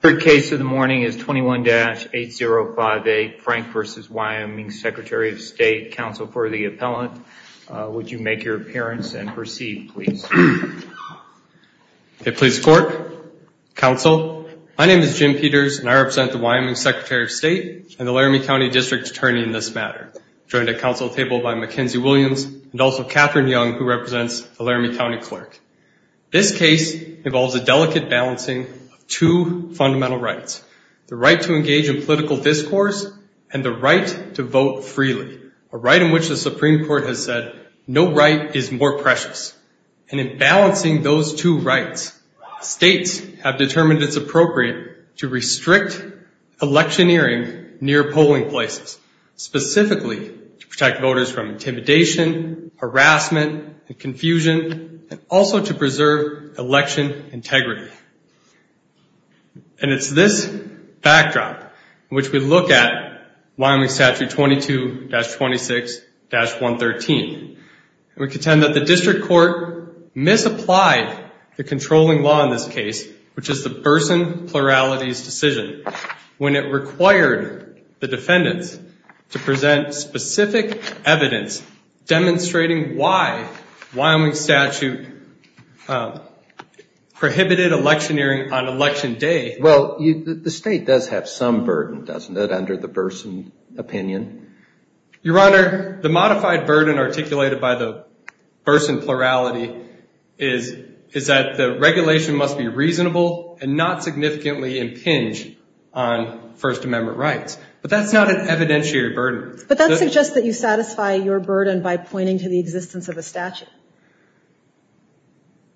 Third case of the morning is 21-8058, Frank v. Wyoming Secretary of State. Counsel for the appellant, would you make your appearance and proceed, please? Okay, please court, counsel, my name is Jim Peters and I represent the Wyoming Secretary of State and the Laramie County District Attorney in this matter, joined at counsel table by Mackenzie Williams and also Catherine Young, who represents the Laramie County Clerk. This case involves a delicate balancing of two fundamental rights. The right to engage in political discourse and the right to vote freely, a right in which the Supreme Court has said, no right is more precious. And in balancing those two rights, states have determined it's appropriate to restrict electioneering near polling places, specifically to protect voters from intimidation, harassment and confusion, and also to preserve election integrity. And it's this backdrop in which we look at Wyoming Statute 22-26-113, and we contend that the district court misapplied the controlling law in this case, which is the person pluralities decision when it required the defendants to present specific evidence demonstrating why Wyoming Statute prohibited electioneering on election day. Well, the state does have some burden, doesn't it, under the Burson opinion? Your Honor, the modified burden articulated by the Burson plurality is that the regulation must be reasonable and not significantly impinge on First Amendment rights. But that's not an evidentiary burden. But that suggests that you satisfy your burden by pointing to the existence of a statute.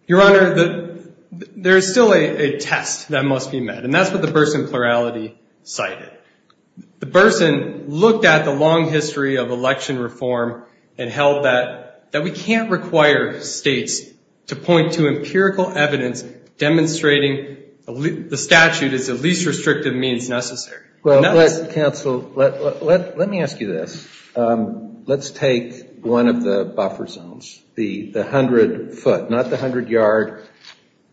Your Honor, there's still a test that must be met, and that's what the Burson plurality cited. The Burson looked at the long history of election reform and held that we can't require states to point to empirical evidence demonstrating the statute is the least restrictive means necessary. Well, counsel, let me ask you this. Let's take one of the buffer zones, the hundred foot, not the hundred yard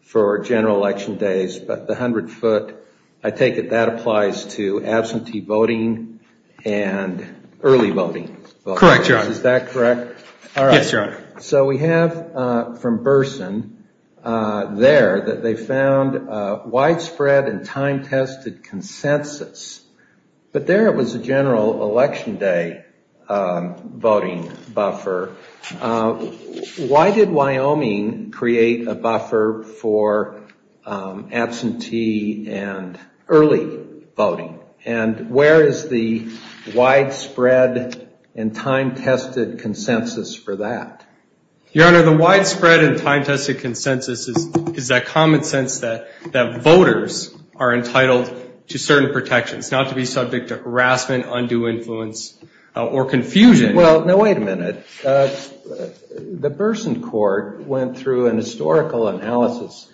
for general election days, but the hundred foot. I take it that applies to absentee voting and early voting. Correct, Your Honor. Yes, Your Honor. All right. So we have from Burson there that they found widespread and time-tested consensus. But there it was a general election day voting buffer. Why did Wyoming create a buffer for absentee and early voting? And where is the widespread and time-tested consensus for that? Your Honor, the widespread and time-tested consensus is that common sense that voters are entitled to certain protections, not to be subject to harassment, undue influence, or confusion. Well, no, wait a minute. The Burson court went through an historical analysis.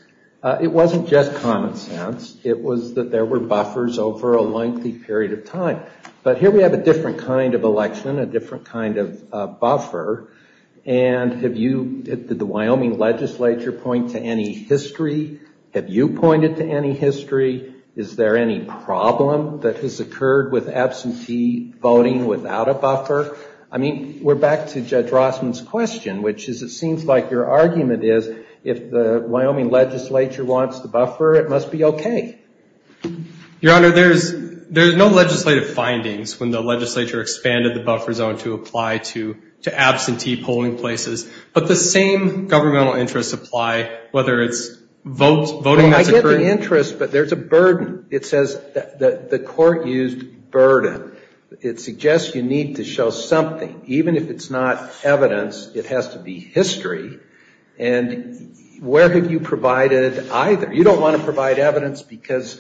It wasn't just common sense. It was that there were buffers over a lengthy period of time. But here we have a different kind of election, a different kind of buffer. And have you, did the Wyoming legislature point to any history? Have you pointed to any history? Is there any problem that has occurred with absentee voting without a buffer? I mean, we're back to Judge Rossman's question, which is, it seems like your argument is, if the Wyoming legislature wants the buffer, it must be okay. Your Honor, there's no legislative findings when the legislature expanded the buffer zone to apply to absentee polling places. But the same governmental interests apply, whether it's voting that's occurring. I get the interest, but there's a burden. It says that the court used burden. It suggests you need to show something. Even if it's not evidence, it has to be history. And where have you provided either? You don't want to provide evidence because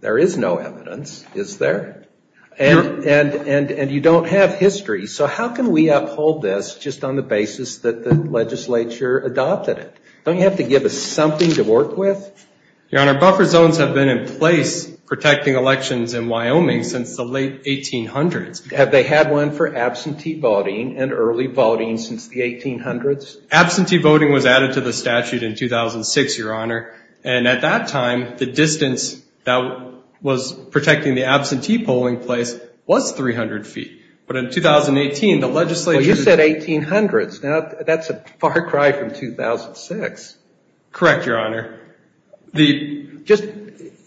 there is no evidence, is there? And you don't have history. So how can we uphold this just on the basis that the legislature adopted it? Don't you have to give us something to work with? Your Honor, buffer zones have been in place protecting elections in Wyoming since the late 1800s. Have they had one for absentee voting and early voting since the 1800s? Absentee voting was added to the statute in 2006, Your Honor. And at that time, the distance that was protecting the absentee polling place was 300 feet. But in 2018, the legislature... You said 1800s. That's a far cry from 2006. Correct, Your Honor. Just,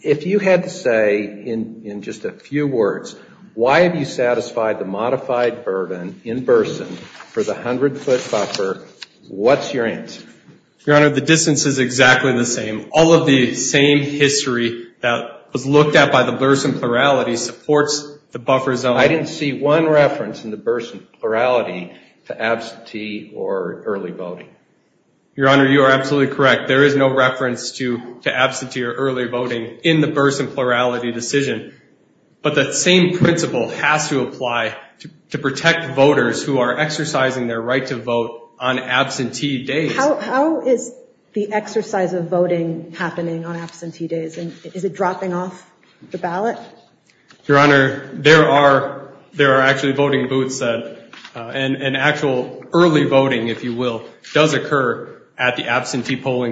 if you had to say in just a few words, why have you satisfied the modified burden in Burson for the 100-foot buffer, what's your answer? Your Honor, the distance is exactly the same. All of the same history that was looked at by the Burson plurality supports the buffer zone. I didn't see one reference in the Burson plurality to absentee or early voting. Your Honor, you are absolutely correct. There is no reference to absentee or early voting in the Burson plurality decision. But that same principle has to apply to protect voters who are exercising their right to vote on absentee days. How is the exercise of voting happening on absentee days? And is it dropping off the ballot? Your Honor, there are actually voting booths and actual early voting, if you will, does in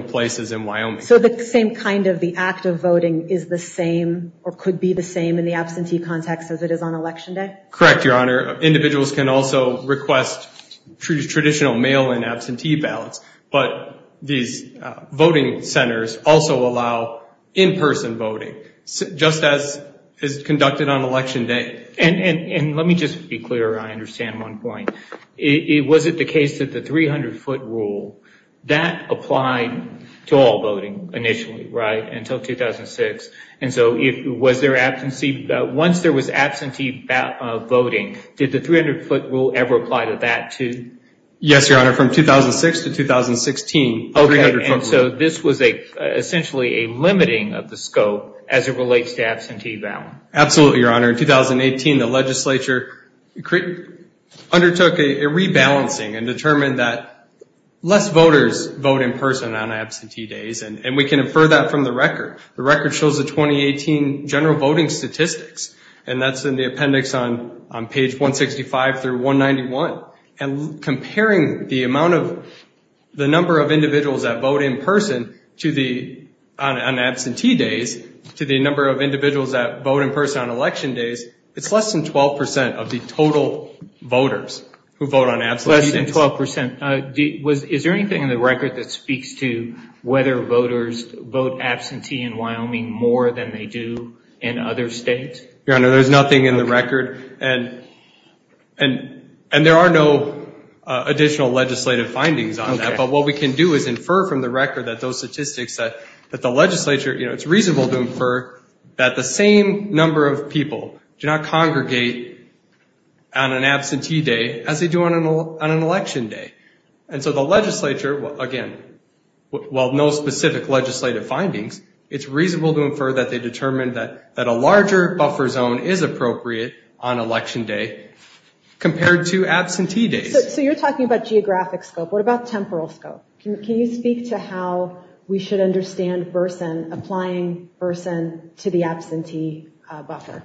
places in Wyoming. So the same kind of the act of voting is the same or could be the same in the absentee context as it is on election day? Correct, Your Honor. Individuals can also request traditional mail-in absentee ballots, but these voting centers also allow in-person voting, just as is conducted on election day. And let me just be clear, I understand one point. Was it the case that the 300-foot rule, that applied to all voting initially, right? Until 2006. And so was there absentee, once there was absentee voting, did the 300-foot rule ever apply to that too? Yes, Your Honor. From 2006 to 2016, 300-foot rule. Okay. And so this was essentially a limiting of the scope as it relates to absentee ballot. Absolutely, Your Honor. In 2018, the legislature undertook a rebalancing and determined that less voters vote in person on absentee days. And we can infer that from the record. The record shows the 2018 general voting statistics. And that's in the appendix on page 165 through 191. And comparing the number of individuals that vote in person on absentee days to the number of individuals that vote in person on election days, it's less than 12% of the total voters who vote on absentee days. Less than 12%. Is there anything in the record that speaks to whether voters vote absentee in Wyoming more than they do in other states? Your Honor, there's nothing in the record. And there are no additional legislative findings on that. Okay. But what we can do is infer from the record that those statistics that the legislature, it's reasonable to infer that the same number of people do not congregate on an absentee day as they do on an election day. And so the legislature, again, while no specific legislative findings, it's reasonable to infer that they determined that a larger buffer zone is appropriate on election day compared to absentee days. So you're talking about geographic scope. What about temporal scope? Can you speak to how we should understand Burson, applying Burson to the absentee buffer?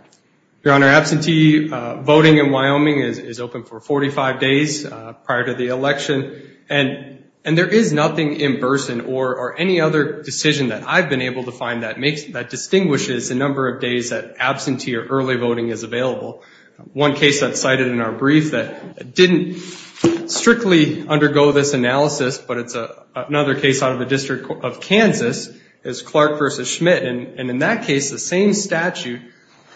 Your Honor, absentee voting in Wyoming is open for 45 days prior to the election. And there is nothing in Burson or any other decision that I've been able to find that distinguishes the number of days that absentee or early voting is available. One case that's cited in our brief that didn't strictly undergo this analysis, but it's another case out of the District of Kansas, is Clark v. Schmidt. And in that case, the same statute,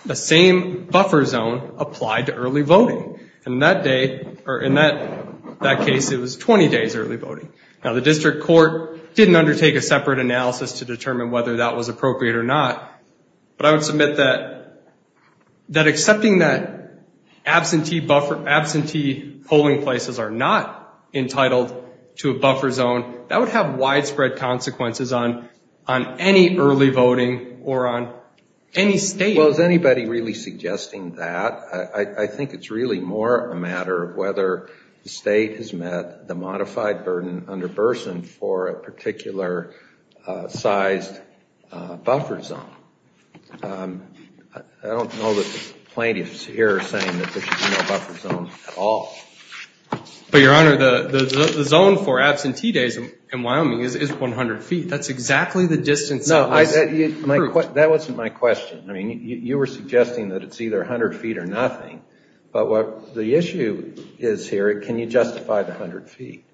the same buffer zone applied to early voting. And in that case, it was 20 days early voting. Now, the district court didn't undertake a separate analysis to determine whether that was appropriate or not. But I would submit that accepting that absentee polling places are not entitled to a buffer zone, that would have widespread consequences on any early voting or on any state. Well, is anybody really suggesting that? I think it's really more a matter of whether the state has met the modified burden under a particular sized buffer zone. I don't know that the plaintiffs here are saying that there should be no buffer zone at all. But, Your Honor, the zone for absentee days in Wyoming is 100 feet. That's exactly the distance that was proved. That wasn't my question. I mean, you were suggesting that it's either 100 feet or nothing. But what the issue is here, can you justify the 100 feet?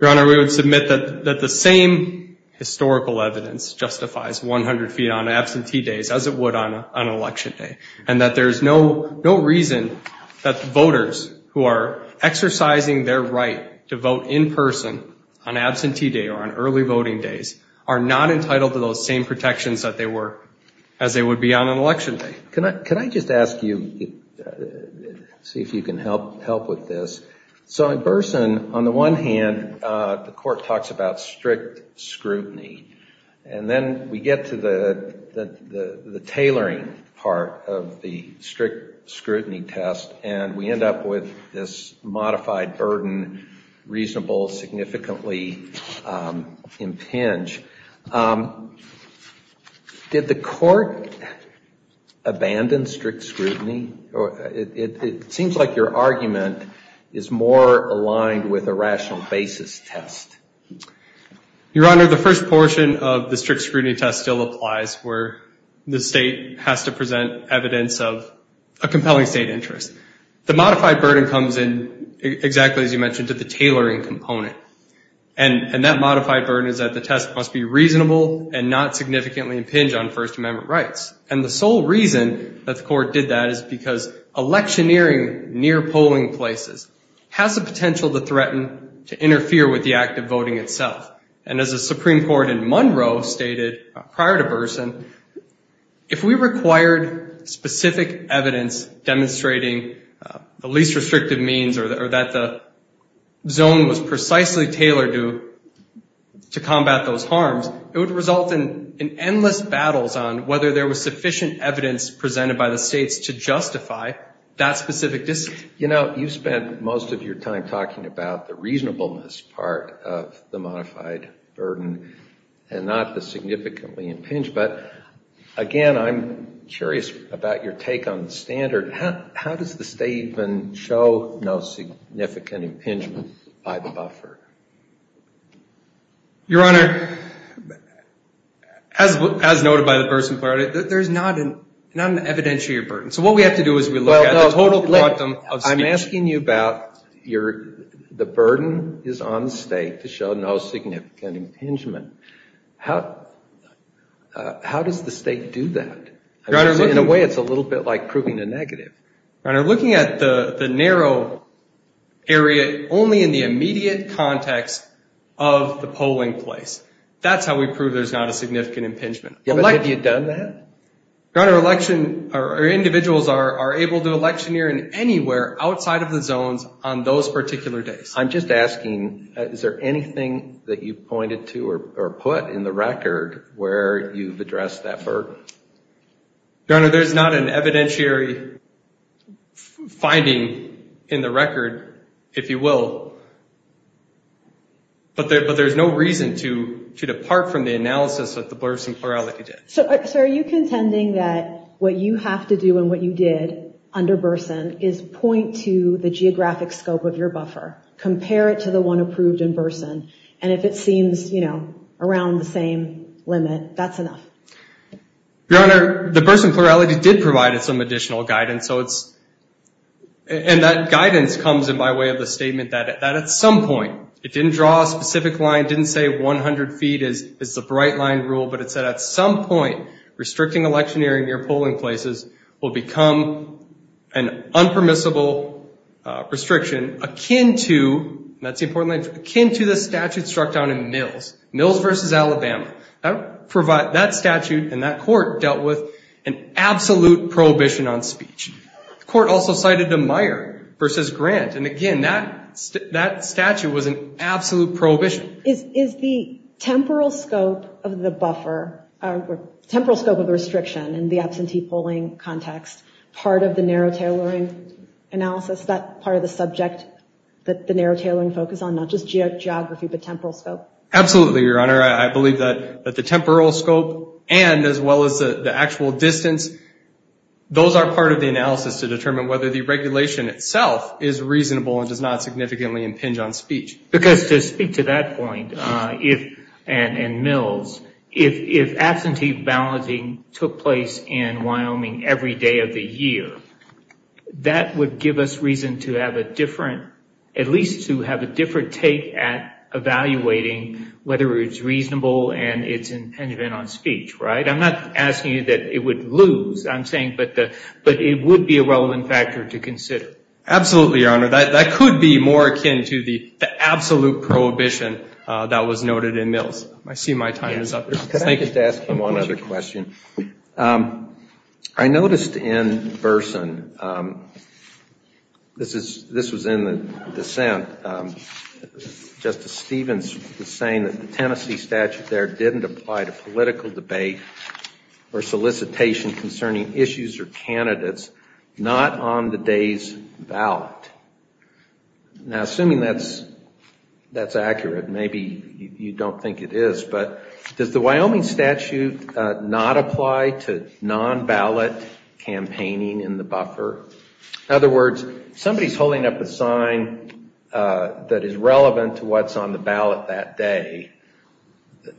Your Honor, we would submit that the same historical evidence justifies 100 feet on absentee days as it would on an election day. And that there's no reason that the voters who are exercising their right to vote in person on absentee day or on early voting days are not entitled to those same protections that they were, as they would be on an election day. Can I just ask you, see if you can help with this. So in person, on the one hand, the court talks about strict scrutiny. And then we get to the tailoring part of the strict scrutiny test, and we end up with this modified burden, reasonable, significantly impinged. Did the court abandon strict scrutiny? It seems like your argument is more aligned with a rational basis test. Your Honor, the first portion of the strict scrutiny test still applies where the state has to present evidence of a compelling state interest. The modified burden comes in exactly as you mentioned, to the tailoring component. And that modified burden is that the test must be reasonable and not significantly impinged on First Amendment rights. And the sole reason that the court did that is because electioneering near polling places has the potential to threaten, to interfere with the act of voting itself. And as the Supreme Court in Monroe stated prior to Burson, if we required specific evidence demonstrating the least restrictive means or that the zone was precisely tailored to combat those harms, it would result in endless battles on whether there was sufficient evidence presented by the states to justify that specific discipline. You know, you spent most of your time talking about the reasonableness part of the modified burden and not the significantly impinged. But again, I'm curious about your take on the standard. How does the statement show no significant impingement by the buffer? Your Honor, as noted by the Burson part, there's not an evidentiary burden. So what we have to do is we look at the total volume of speech. I'm asking you about the burden is on the state to show no significant impingement. How does the state do that? In a way, it's a little bit like proving a negative. Your Honor, looking at the narrow area only in the immediate context of the polling place. That's how we prove there's not a significant impingement. Yeah, but have you done that? Your Honor, individuals are able to electioneer in anywhere outside of the zones on those particular days. I'm just asking, is there anything that you pointed to or put in the record where you've addressed that burden? Your Honor, there's not an evidentiary finding in the record, if you will. But there's no reason to depart from the analysis that the Burson Plurality did. So are you contending that what you have to do and what you did under Burson is point to the geographic scope of your buffer, compare it to the one approved in Burson, and if it Your Honor, the Burson Plurality did provide us some additional guidance. And that guidance comes in by way of the statement that at some point, it didn't draw a specific line, didn't say 100 feet is the bright line rule. But it said at some point, restricting electioneering near polling places will become an unpermissible restriction akin to the statute struck down in Mills. Mills versus Alabama. That statute and that court dealt with an absolute prohibition on speech. The court also cited a Meyer versus Grant. And again, that statute was an absolute prohibition. Is the temporal scope of the buffer, temporal scope of the restriction in the absentee polling context, part of the narrow tailoring analysis? That part of the subject that the narrow tailoring focus on, not just geography, but temporal scope? Absolutely, Your Honor. I believe that the temporal scope and as well as the actual distance, those are part of the analysis to determine whether the regulation itself is reasonable and does not significantly impinge on speech. Because to speak to that point, and Mills, if absentee balloting took place in Wyoming every day of the year, that would give us reason to have a different, a different take at evaluating whether it's reasonable and it's impingement on speech, right? I'm not asking you that it would lose. I'm saying, but it would be a relevant factor to consider. Absolutely, Your Honor. That could be more akin to the absolute prohibition that was noted in Mills. I see my time is up. Can I just ask one other question? I noticed in Burson, this was in the dissent, Justice Stevens was saying that the Tennessee statute there didn't apply to political debate or solicitation concerning issues or candidates not on the day's ballot. Now, assuming that's accurate, maybe you don't think it is, but does the Wyoming statute not apply to non-ballot campaigning in the buffer? In other words, somebody's holding up a sign that is relevant to what's on the ballot that day.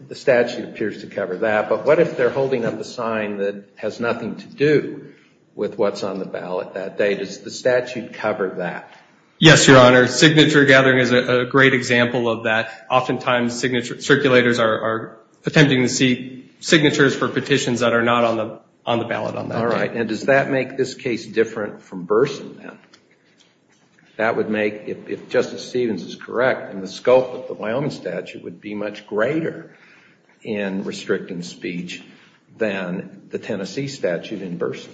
The statute appears to cover that. But what if they're holding up a sign that has nothing to do with what's on the ballot that day? Does the statute cover that? Yes, Your Honor. Signature gathering is a great example of that. Oftentimes, circulators are attempting to see signatures for petitions that are not on the ballot on that day. All right. And does that make this case different from Burson, then? That would make, if Justice Stevens is correct, then the scope of the Wyoming statute would be much greater in restricting speech than the Tennessee statute in Burson.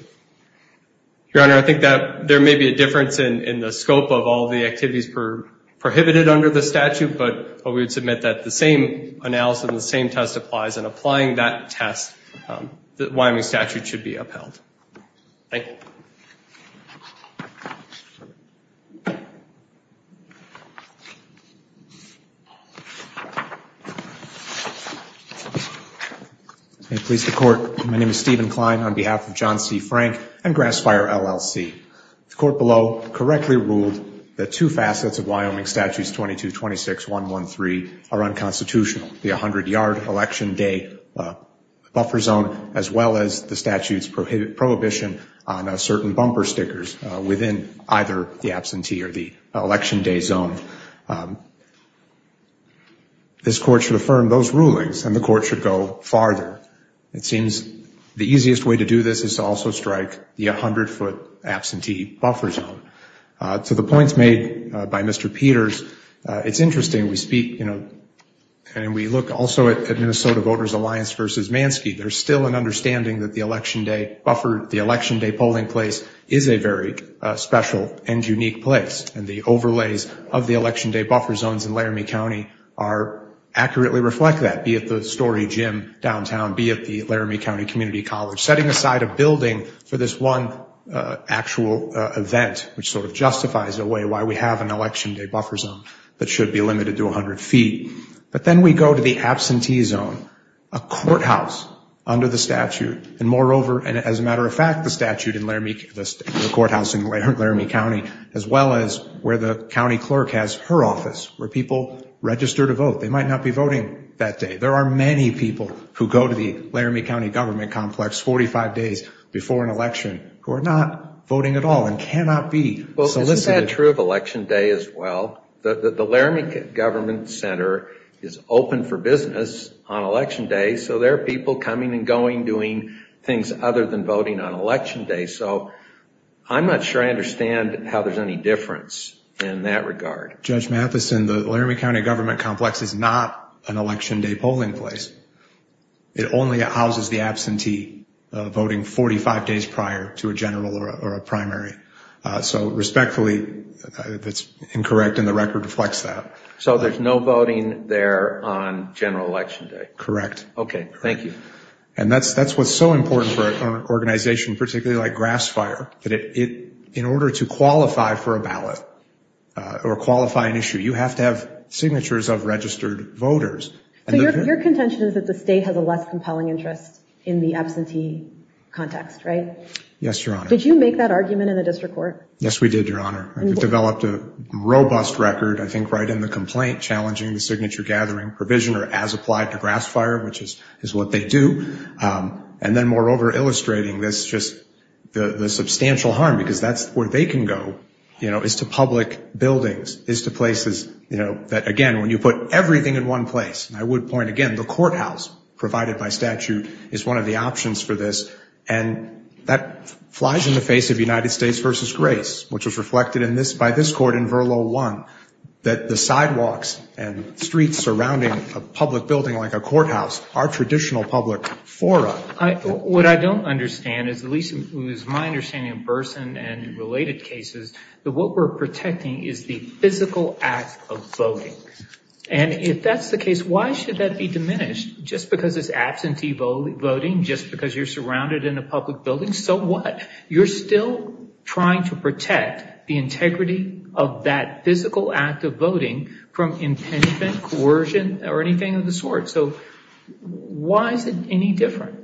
Your Honor, I think that there may be a difference in the scope of all the activities prohibited under the statute, but we would submit that the same analysis and the same test applies. And applying that test, the Wyoming statute should be upheld. Thank you. May it please the Court, my name is Stephen Klein on behalf of John C. Frank and Grass Fire, LLC. The court below correctly ruled that two facets of Wyoming statutes 2226.113 are unconstitutional. The 100-yard election day buffer zone, as well as the statute's prohibition on certain bumper stickers within either the absentee or the election day zone. This court should affirm those rulings and the court should go farther. It seems the easiest way to do this is to also strike the 100-foot absentee buffer zone. To the points made by Mr. Peters, it's interesting we speak, you know, and we look also at Minnesota Voters Alliance v. Manske. There's still an understanding that the election day buffer, the election day polling place is a very special and unique place. And the overlays of the election day buffer zones in Laramie County accurately reflect that, be it the Story Gym downtown, be it the Laramie County Community College. Setting aside a building for this one actual event, which sort of justifies a way why we have an election day buffer zone that should be limited to 100 feet. But then we go to the absentee zone, a courthouse under the statute, and moreover, and as a matter of fact, the statute in Laramie, the courthouse in Laramie County, as well as where the county clerk has her office, where people register to vote. They might not be voting that day. There are many people who go to the Laramie County Government Complex 45 days before an election who are not voting at all and cannot be solicited. Well, isn't that true of election day as well? The Laramie Government Center is open for business on election day, so there are people coming and going doing things other than voting on election day. So I'm not sure I understand how there's any difference in that regard. Judge Matheson, the Laramie County Government Complex is not an election day polling place. It only houses the absentee voting 45 days prior to a general or a primary. So respectfully, that's incorrect and the record reflects that. So there's no voting there on general election day? Correct. Okay, thank you. And that's what's so important for an organization, particularly like Grass Fire, that in order to qualify for a ballot or qualify an issue, you have to have signatures of registered voters. So your contention is that the state has a less compelling interest in the absentee context, right? Yes, Your Honor. Did you make that argument in the district court? Yes, we did, Your Honor. We developed a robust record, I think, right in the complaint, challenging the signature-gathering provision or as applied to Grass Fire, which is what they do. And then moreover, illustrating this, just the substantial harm, because that's where they can go, you know, is to public buildings, is to places, you know, that again, when you put everything in one place, I would point again, the courthouse provided by statute is one of the options for this. And that flies in the face of United States v. Grace, which was reflected by this court in Verlo 1, that the sidewalks and streets surrounding a public building like a courthouse are traditional public fora. What I don't understand is, at least it was my understanding in person and in related cases, that what we're protecting is the physical act of voting. And if that's the case, why should that be diminished? Just because it's absentee voting, just because you're surrounded in a public building, so what? You're still trying to protect the integrity of that physical act of voting from impingement, coercion, or anything of the sort. So why is it any different?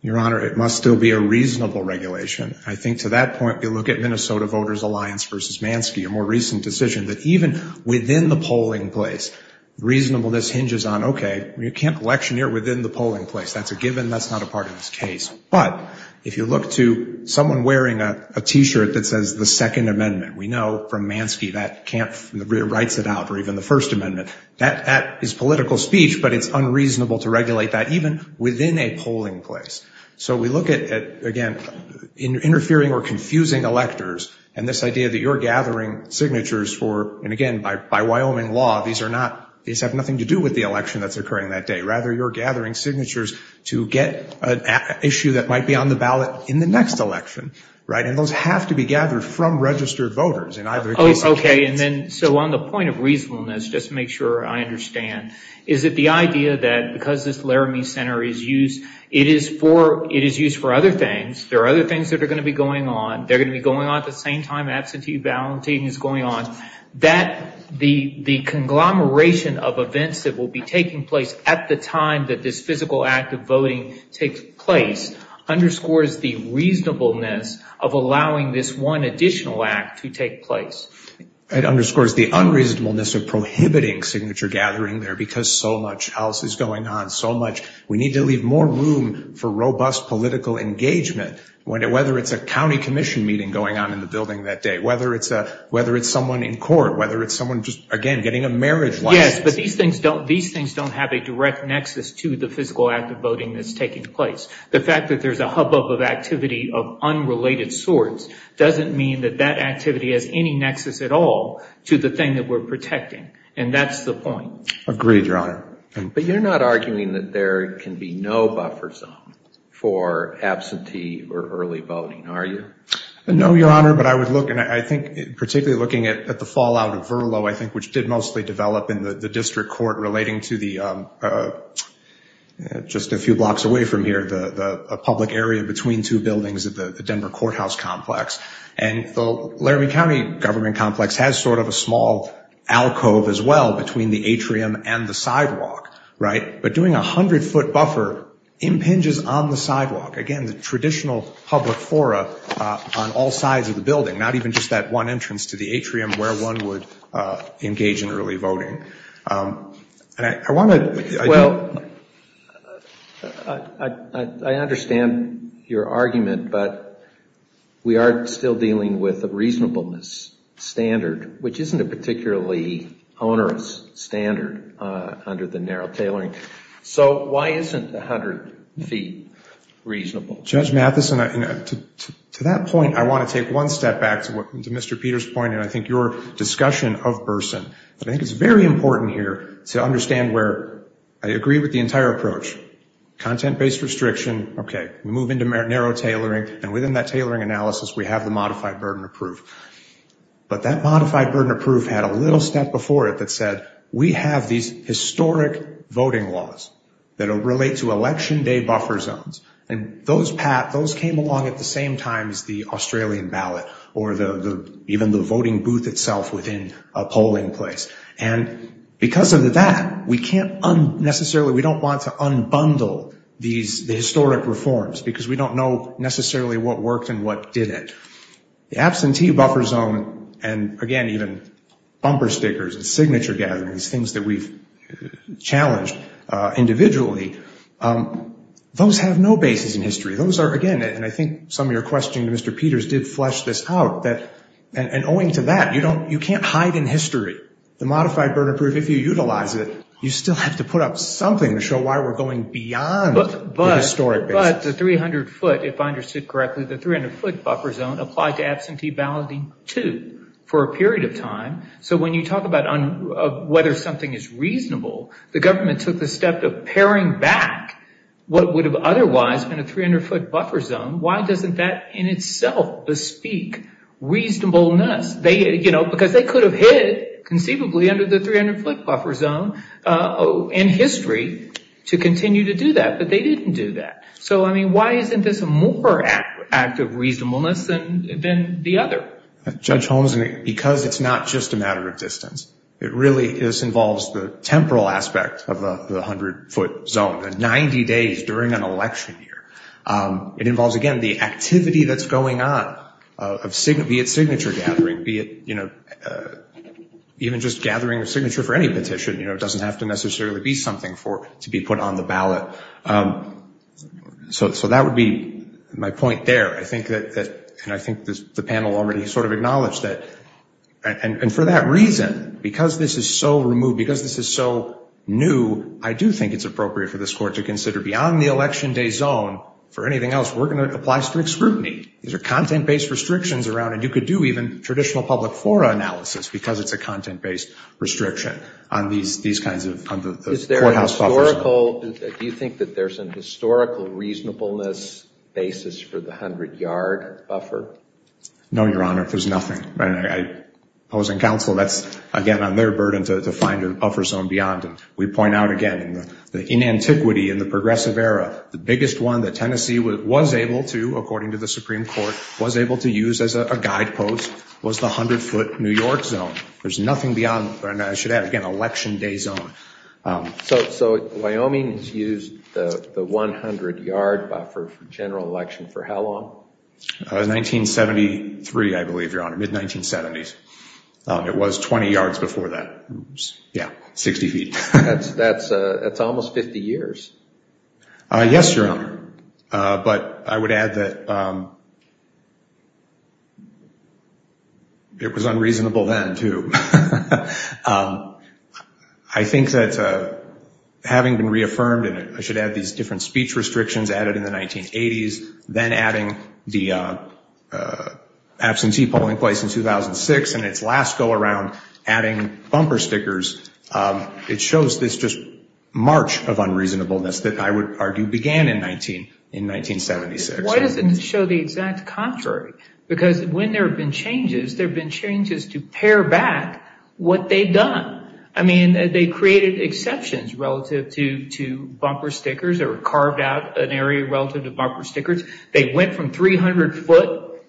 Your Honor, it must still be a reasonable regulation. I think to that point, you look at Minnesota Voters Alliance v. Manske, a more recent decision, that even within the polling place, reasonableness hinges on, okay, you can't electioneer within the polling place. That's a given. That's not a part of this case. But if you look to someone wearing a T-shirt that says the Second Amendment, we know from Manske that can't, writes it out, or even the First Amendment, that is political speech, but it's unreasonable to regulate that even within a polling place. So we look at, again, interfering or confusing electors, and this idea that you're gathering signatures for, and again, by Wyoming law, these are not, these have nothing to do with the election that's occurring that day. Rather, you're gathering signatures to get an issue that might be on the ballot in the next election, right? And those have to be gathered from registered voters in either case. Okay, and then, so on the point of reasonableness, just to make sure I understand, is that the idea that because this Laramie Center is used, it is for, it is used for other things. There are other things that are going to be going on. They're going to be going on at the same time Absentee Balloting is going on. That, the conglomeration of events that will be taking place at the time that this physical act of voting takes place underscores the reasonableness of allowing this one additional act to take place. It underscores the unreasonableness of prohibiting signature gathering there because so much else is going on, so much, we need to leave more room for robust political engagement, whether it's a county commission meeting going on in the building that day, whether it's a, whether it's someone in court, whether it's someone just, again, getting a marriage license. Yes, but these things don't, these things don't have a direct nexus to the physical act of voting that's taking place. The fact that there's a hubbub of activity of unrelated sorts doesn't mean that that activity has any nexus at all to the thing that we're protecting, and that's the point. Agreed, Your Honor. But you're not arguing that there can be no buffer zone for absentee or early voting, are you? No, Your Honor, but I would look, and I think particularly looking at the fallout of Verlo, I think which did mostly develop in the district court relating to the, just a few blocks away from here, the public area between two buildings at the Denver Courthouse Complex, and the Laramie County Government Complex has sort of a small alcove as well between the atrium and the sidewalk, right? But doing a 100-foot buffer impinges on the sidewalk. Again, the traditional public fora on all sides of the building, not even just that one entrance to the atrium where one would engage in early voting. Well, I understand your argument, but we are still dealing with a reasonableness standard, which isn't a particularly onerous standard under the narrow tailoring. So why isn't 100 feet reasonable? Judge Matheson, to that point, I want to take one step back to Mr. Peters' point, and I think your discussion of Burson, I think it's very important, very important here to understand where I agree with the entire approach. Content-based restriction, okay, we move into narrow tailoring, and within that tailoring analysis, we have the modified burden of proof. But that modified burden of proof had a little step before it that said, we have these historic voting laws that relate to election day buffer zones, and those came along at the same time as the Australian ballot, or even the voting booth itself within a polling place. And because of that, we can't unnecessarily, we don't want to unbundle these historic reforms because we don't know necessarily what worked and what didn't. The absentee buffer zone, and again, even bumper stickers and signature gatherings, things that we've challenged individually, those have no basis in history. Those are, again, and I think some of your questioning to Mr. Peters did flesh this out, and owing to that, you can't hide in history. The modified burden of proof, if you utilize it, you still have to put up something to show why we're going beyond the historic basis. But the 300 foot, if I understood correctly, the 300 foot buffer zone applied to absentee balloting, too, for a period of time. So when you talk about whether something is reasonable, the government took the step of paring back what would have otherwise been a 300 foot buffer zone. Why doesn't that in itself bespeak reasonableness? Because they could have hid, conceivably, under the 300 foot buffer zone in history to continue to do that. But they didn't do that. So, I mean, why isn't this a more act of reasonableness than the other? Judge Holmes, because it's not just a matter of distance. It really involves the temporal aspect of the 100 foot zone, the 90 days during an election year. It involves, again, the activity that's going on, be it signature gathering, be it even just gathering a signature for any petition. It doesn't have to necessarily be something to be put on the ballot. So that would be my point there. And I think the panel already sort of acknowledged that. And for that reason, because this is so removed, because this is so new, I do think it's appropriate for this court to consider beyond the election day zone for anything else. We're going to apply strict scrutiny. These are content-based restrictions around it. You could do even traditional public fora analysis because it's a content-based restriction on these kinds of courthouse buffers. Do you think that there's a historical reasonableness basis for the 100 yard buffer? No, Your Honor. There's nothing. Opposing counsel, that's, again, on their burden to find a buffer zone beyond. And we point out again, in antiquity, in the progressive era, the biggest one that Tennessee was able to, according to the Supreme Court, was able to use as a guidepost was the 100 foot New York zone. There's nothing beyond. And I should add, again, election day zone. So Wyoming's used the 100 yard buffer for general election for how long? 1973, I believe, Your Honor, mid-1970s. It was 20 yards before that. Yeah, 60 feet. That's almost 50 years. Yes, Your Honor. But I would add that it was unreasonable then, too. I think that having been reaffirmed, and I should add these different speech restrictions added in the 1980s, then adding the absentee polling place in 2006, and its last go around adding bumper stickers, it shows this just march of unreasonableness that I would argue began in 1976. Why doesn't it show the exact contrary? Because when there have been changes, there have been changes to pare back what they've done. I mean, they've created exceptions relative to bumper stickers or carved out an area relative to bumper stickers. They went from 300 foot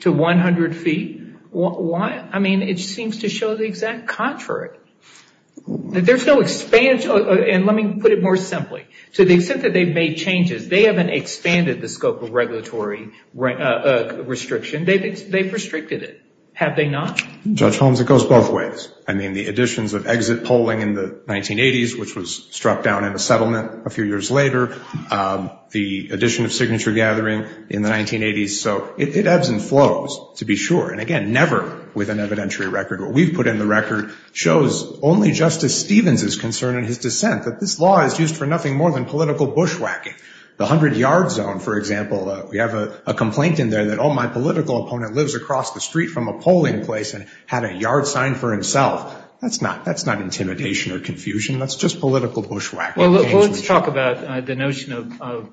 to 100 feet. Why? I mean, it seems to show the exact contrary. There's no expansion. And let me put it more simply. To the extent that they've made changes, they haven't expanded the scope of regulatory restriction. They've restricted it. Have they not? Judge Holmes, it goes both ways. I mean, the additions of exit polling in the 1980s, which was struck down in a settlement a few years later, the addition of signature gathering in the 1980s. So it ebbs and flows, to be sure. And, again, never with an evidentiary record. What we've put in the record shows only Justice Stevens is concerned in his dissent, that this law is used for nothing more than political bushwhacking. The 100-yard zone, for example, we have a complaint in there that, oh, my political opponent lives across the street from a polling place and had a yard signed for himself. That's not intimidation or confusion. That's just political bushwhacking. Well, let's talk about the notion of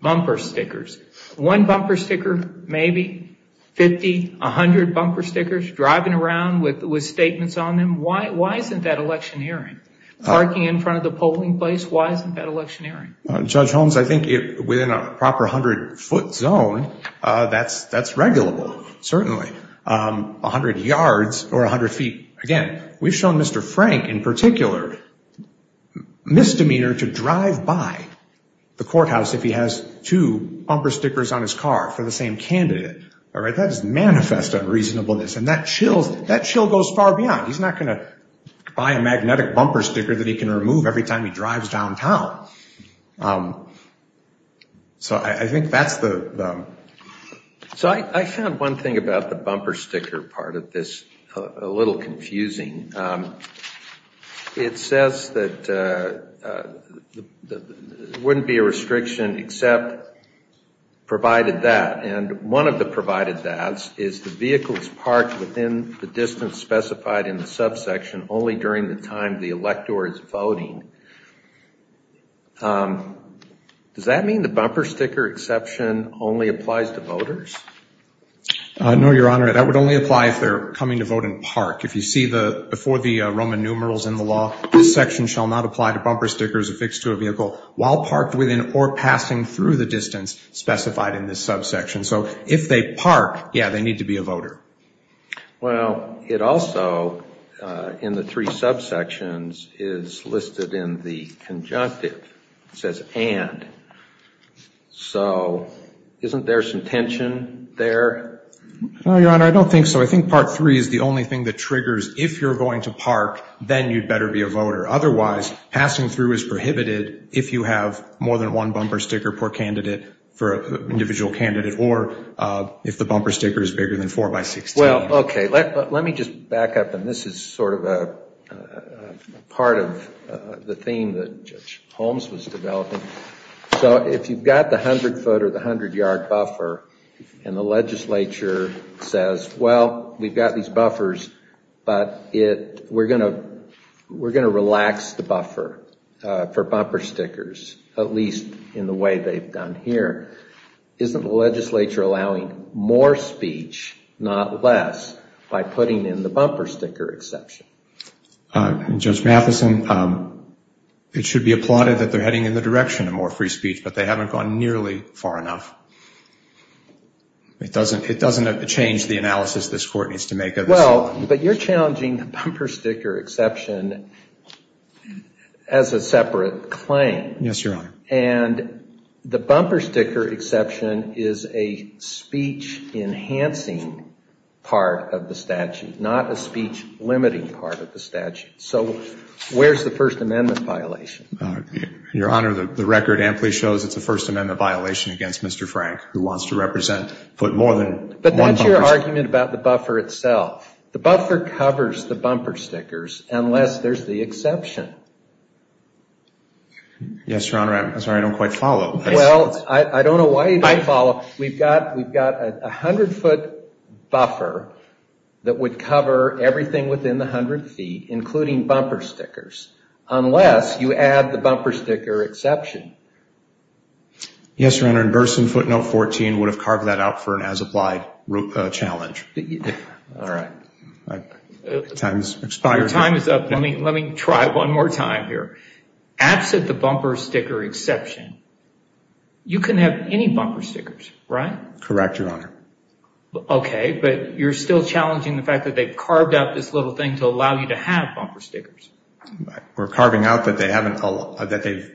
bumper stickers. One bumper sticker, maybe, 50, 100 bumper stickers, driving around with statements on them. Why isn't that electioneering? Parking in front of the polling place, why isn't that electioneering? Judge Holmes, I think within a proper 100-foot zone, that's regulable, certainly. 100 yards or 100 feet, again, we've shown Mr. Frank, in particular, misdemeanor to drive by the courthouse if he has two bumper stickers on his car for the same candidate. All right, that is manifest unreasonableness. And that chill goes far beyond. He's not going to buy a magnetic bumper sticker that he can remove every time he drives downtown. So I think that's the. So I found one thing about the bumper sticker part of this a little confusing. It says that there wouldn't be a restriction except provided that. And one of the provided that's is the vehicle is parked within the distance specified in the subsection only during the time the elector is voting. Does that mean the bumper sticker exception only applies to voters? No, Your Honor, that would only apply if they're coming to vote in park. If you see before the Roman numerals in the law, this section shall not apply to bumper stickers affixed to a vehicle while parked within or passing through the distance specified in this subsection. So if they park, yeah, they need to be a voter. Well, it also, in the three subsections, is listed in the conjunctive. It says and. So isn't there some tension there? No, Your Honor, I don't think so. I think part three is the only thing that triggers if you're going to park, then you'd better be a voter. Otherwise, passing through is prohibited if you have more than one bumper sticker per candidate for an individual candidate or if the bumper sticker is bigger than four by six. Well, OK, let me just back up. And this is sort of a part of the theme that Holmes was developing. So if you've got the hundred foot or the hundred yard buffer and the legislature says, well, we've got these buffers, but we're going to relax the buffer for bumper stickers, at least in the way they've done here, isn't the legislature allowing more speech, not less, by putting in the bumper sticker exception? Judge Matheson, it should be applauded that they're heading in the direction of more free speech, but they haven't gone nearly far enough. It doesn't change the analysis this Court needs to make. Well, but you're challenging the bumper sticker exception as a separate claim. Yes, Your Honor. And the bumper sticker exception is a speech enhancing part of the statute, not a speech limiting part of the statute. So where's the First Amendment violation? Your Honor, the record amply shows it's a First Amendment violation against Mr. Frank, who wants to represent foot more than one bumper sticker. But that's your argument about the buffer itself. The buffer covers the bumper stickers unless there's the exception. Yes, Your Honor. I'm sorry, I don't quite follow. Well, I don't know why you don't follow. We've got a hundred foot buffer that would cover everything within the hundred feet, including bumper stickers, unless you add the bumper sticker exception. Yes, Your Honor. And Burson footnote 14 would have carved that out for an as-applied challenge. All right. Time has expired. Your time is up. Let me try one more time here. Absent the bumper sticker exception, you can have any bumper stickers, right? Correct, Your Honor. Okay, but you're still challenging the fact that they've carved out this little thing to allow you to have bumper stickers. We're carving out that they're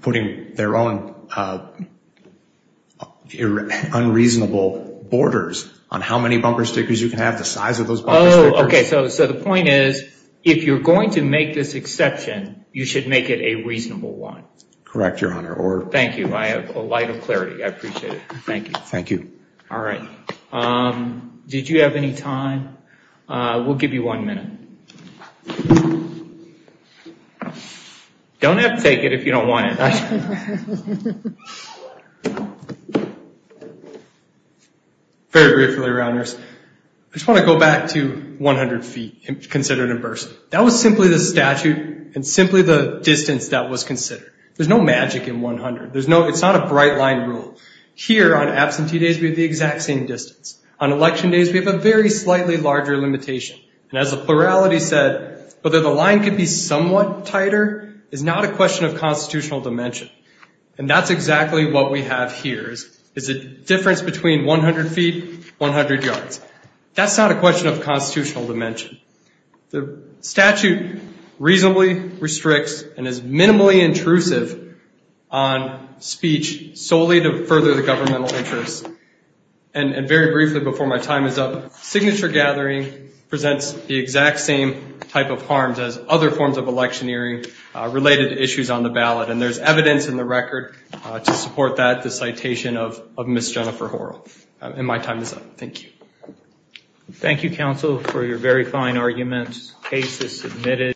putting their own unreasonable borders on how many bumper stickers you can have, the size of those bumper stickers. Oh, okay. So the point is, if you're going to make this exception, you should make it a reasonable one. Correct, Your Honor. Thank you. I have a light of clarity. I appreciate it. Thank you. Thank you. All right. Did you have any time? We'll give you one minute. Don't have to take it if you don't want it. Very briefly, Your Honors. I just want to go back to 100 feet considered in Burson. That was simply the statute and simply the distance that was considered. There's no magic in 100. It's not a bright-line rule. Here, on absentee days, we have the exact same distance. On election days, we have a very slightly larger limitation. And as the plurality said, whether the line can be somewhat tighter is not a question of constitutional dimension. And that's exactly what we have here is a difference between 100 feet, 100 yards. That's not a question of constitutional dimension. The statute reasonably restricts and is minimally intrusive on speech solely to further the governmental interest. And very briefly, before my time is up, signature gathering presents the exact same type of harms as other forms of electioneering related to issues on the ballot. And there's evidence in the record to support that, the citation of Ms. Jennifer Horrell. And my time is up. Thank you. Thank you, counsel, for your very fine arguments. Case is submitted.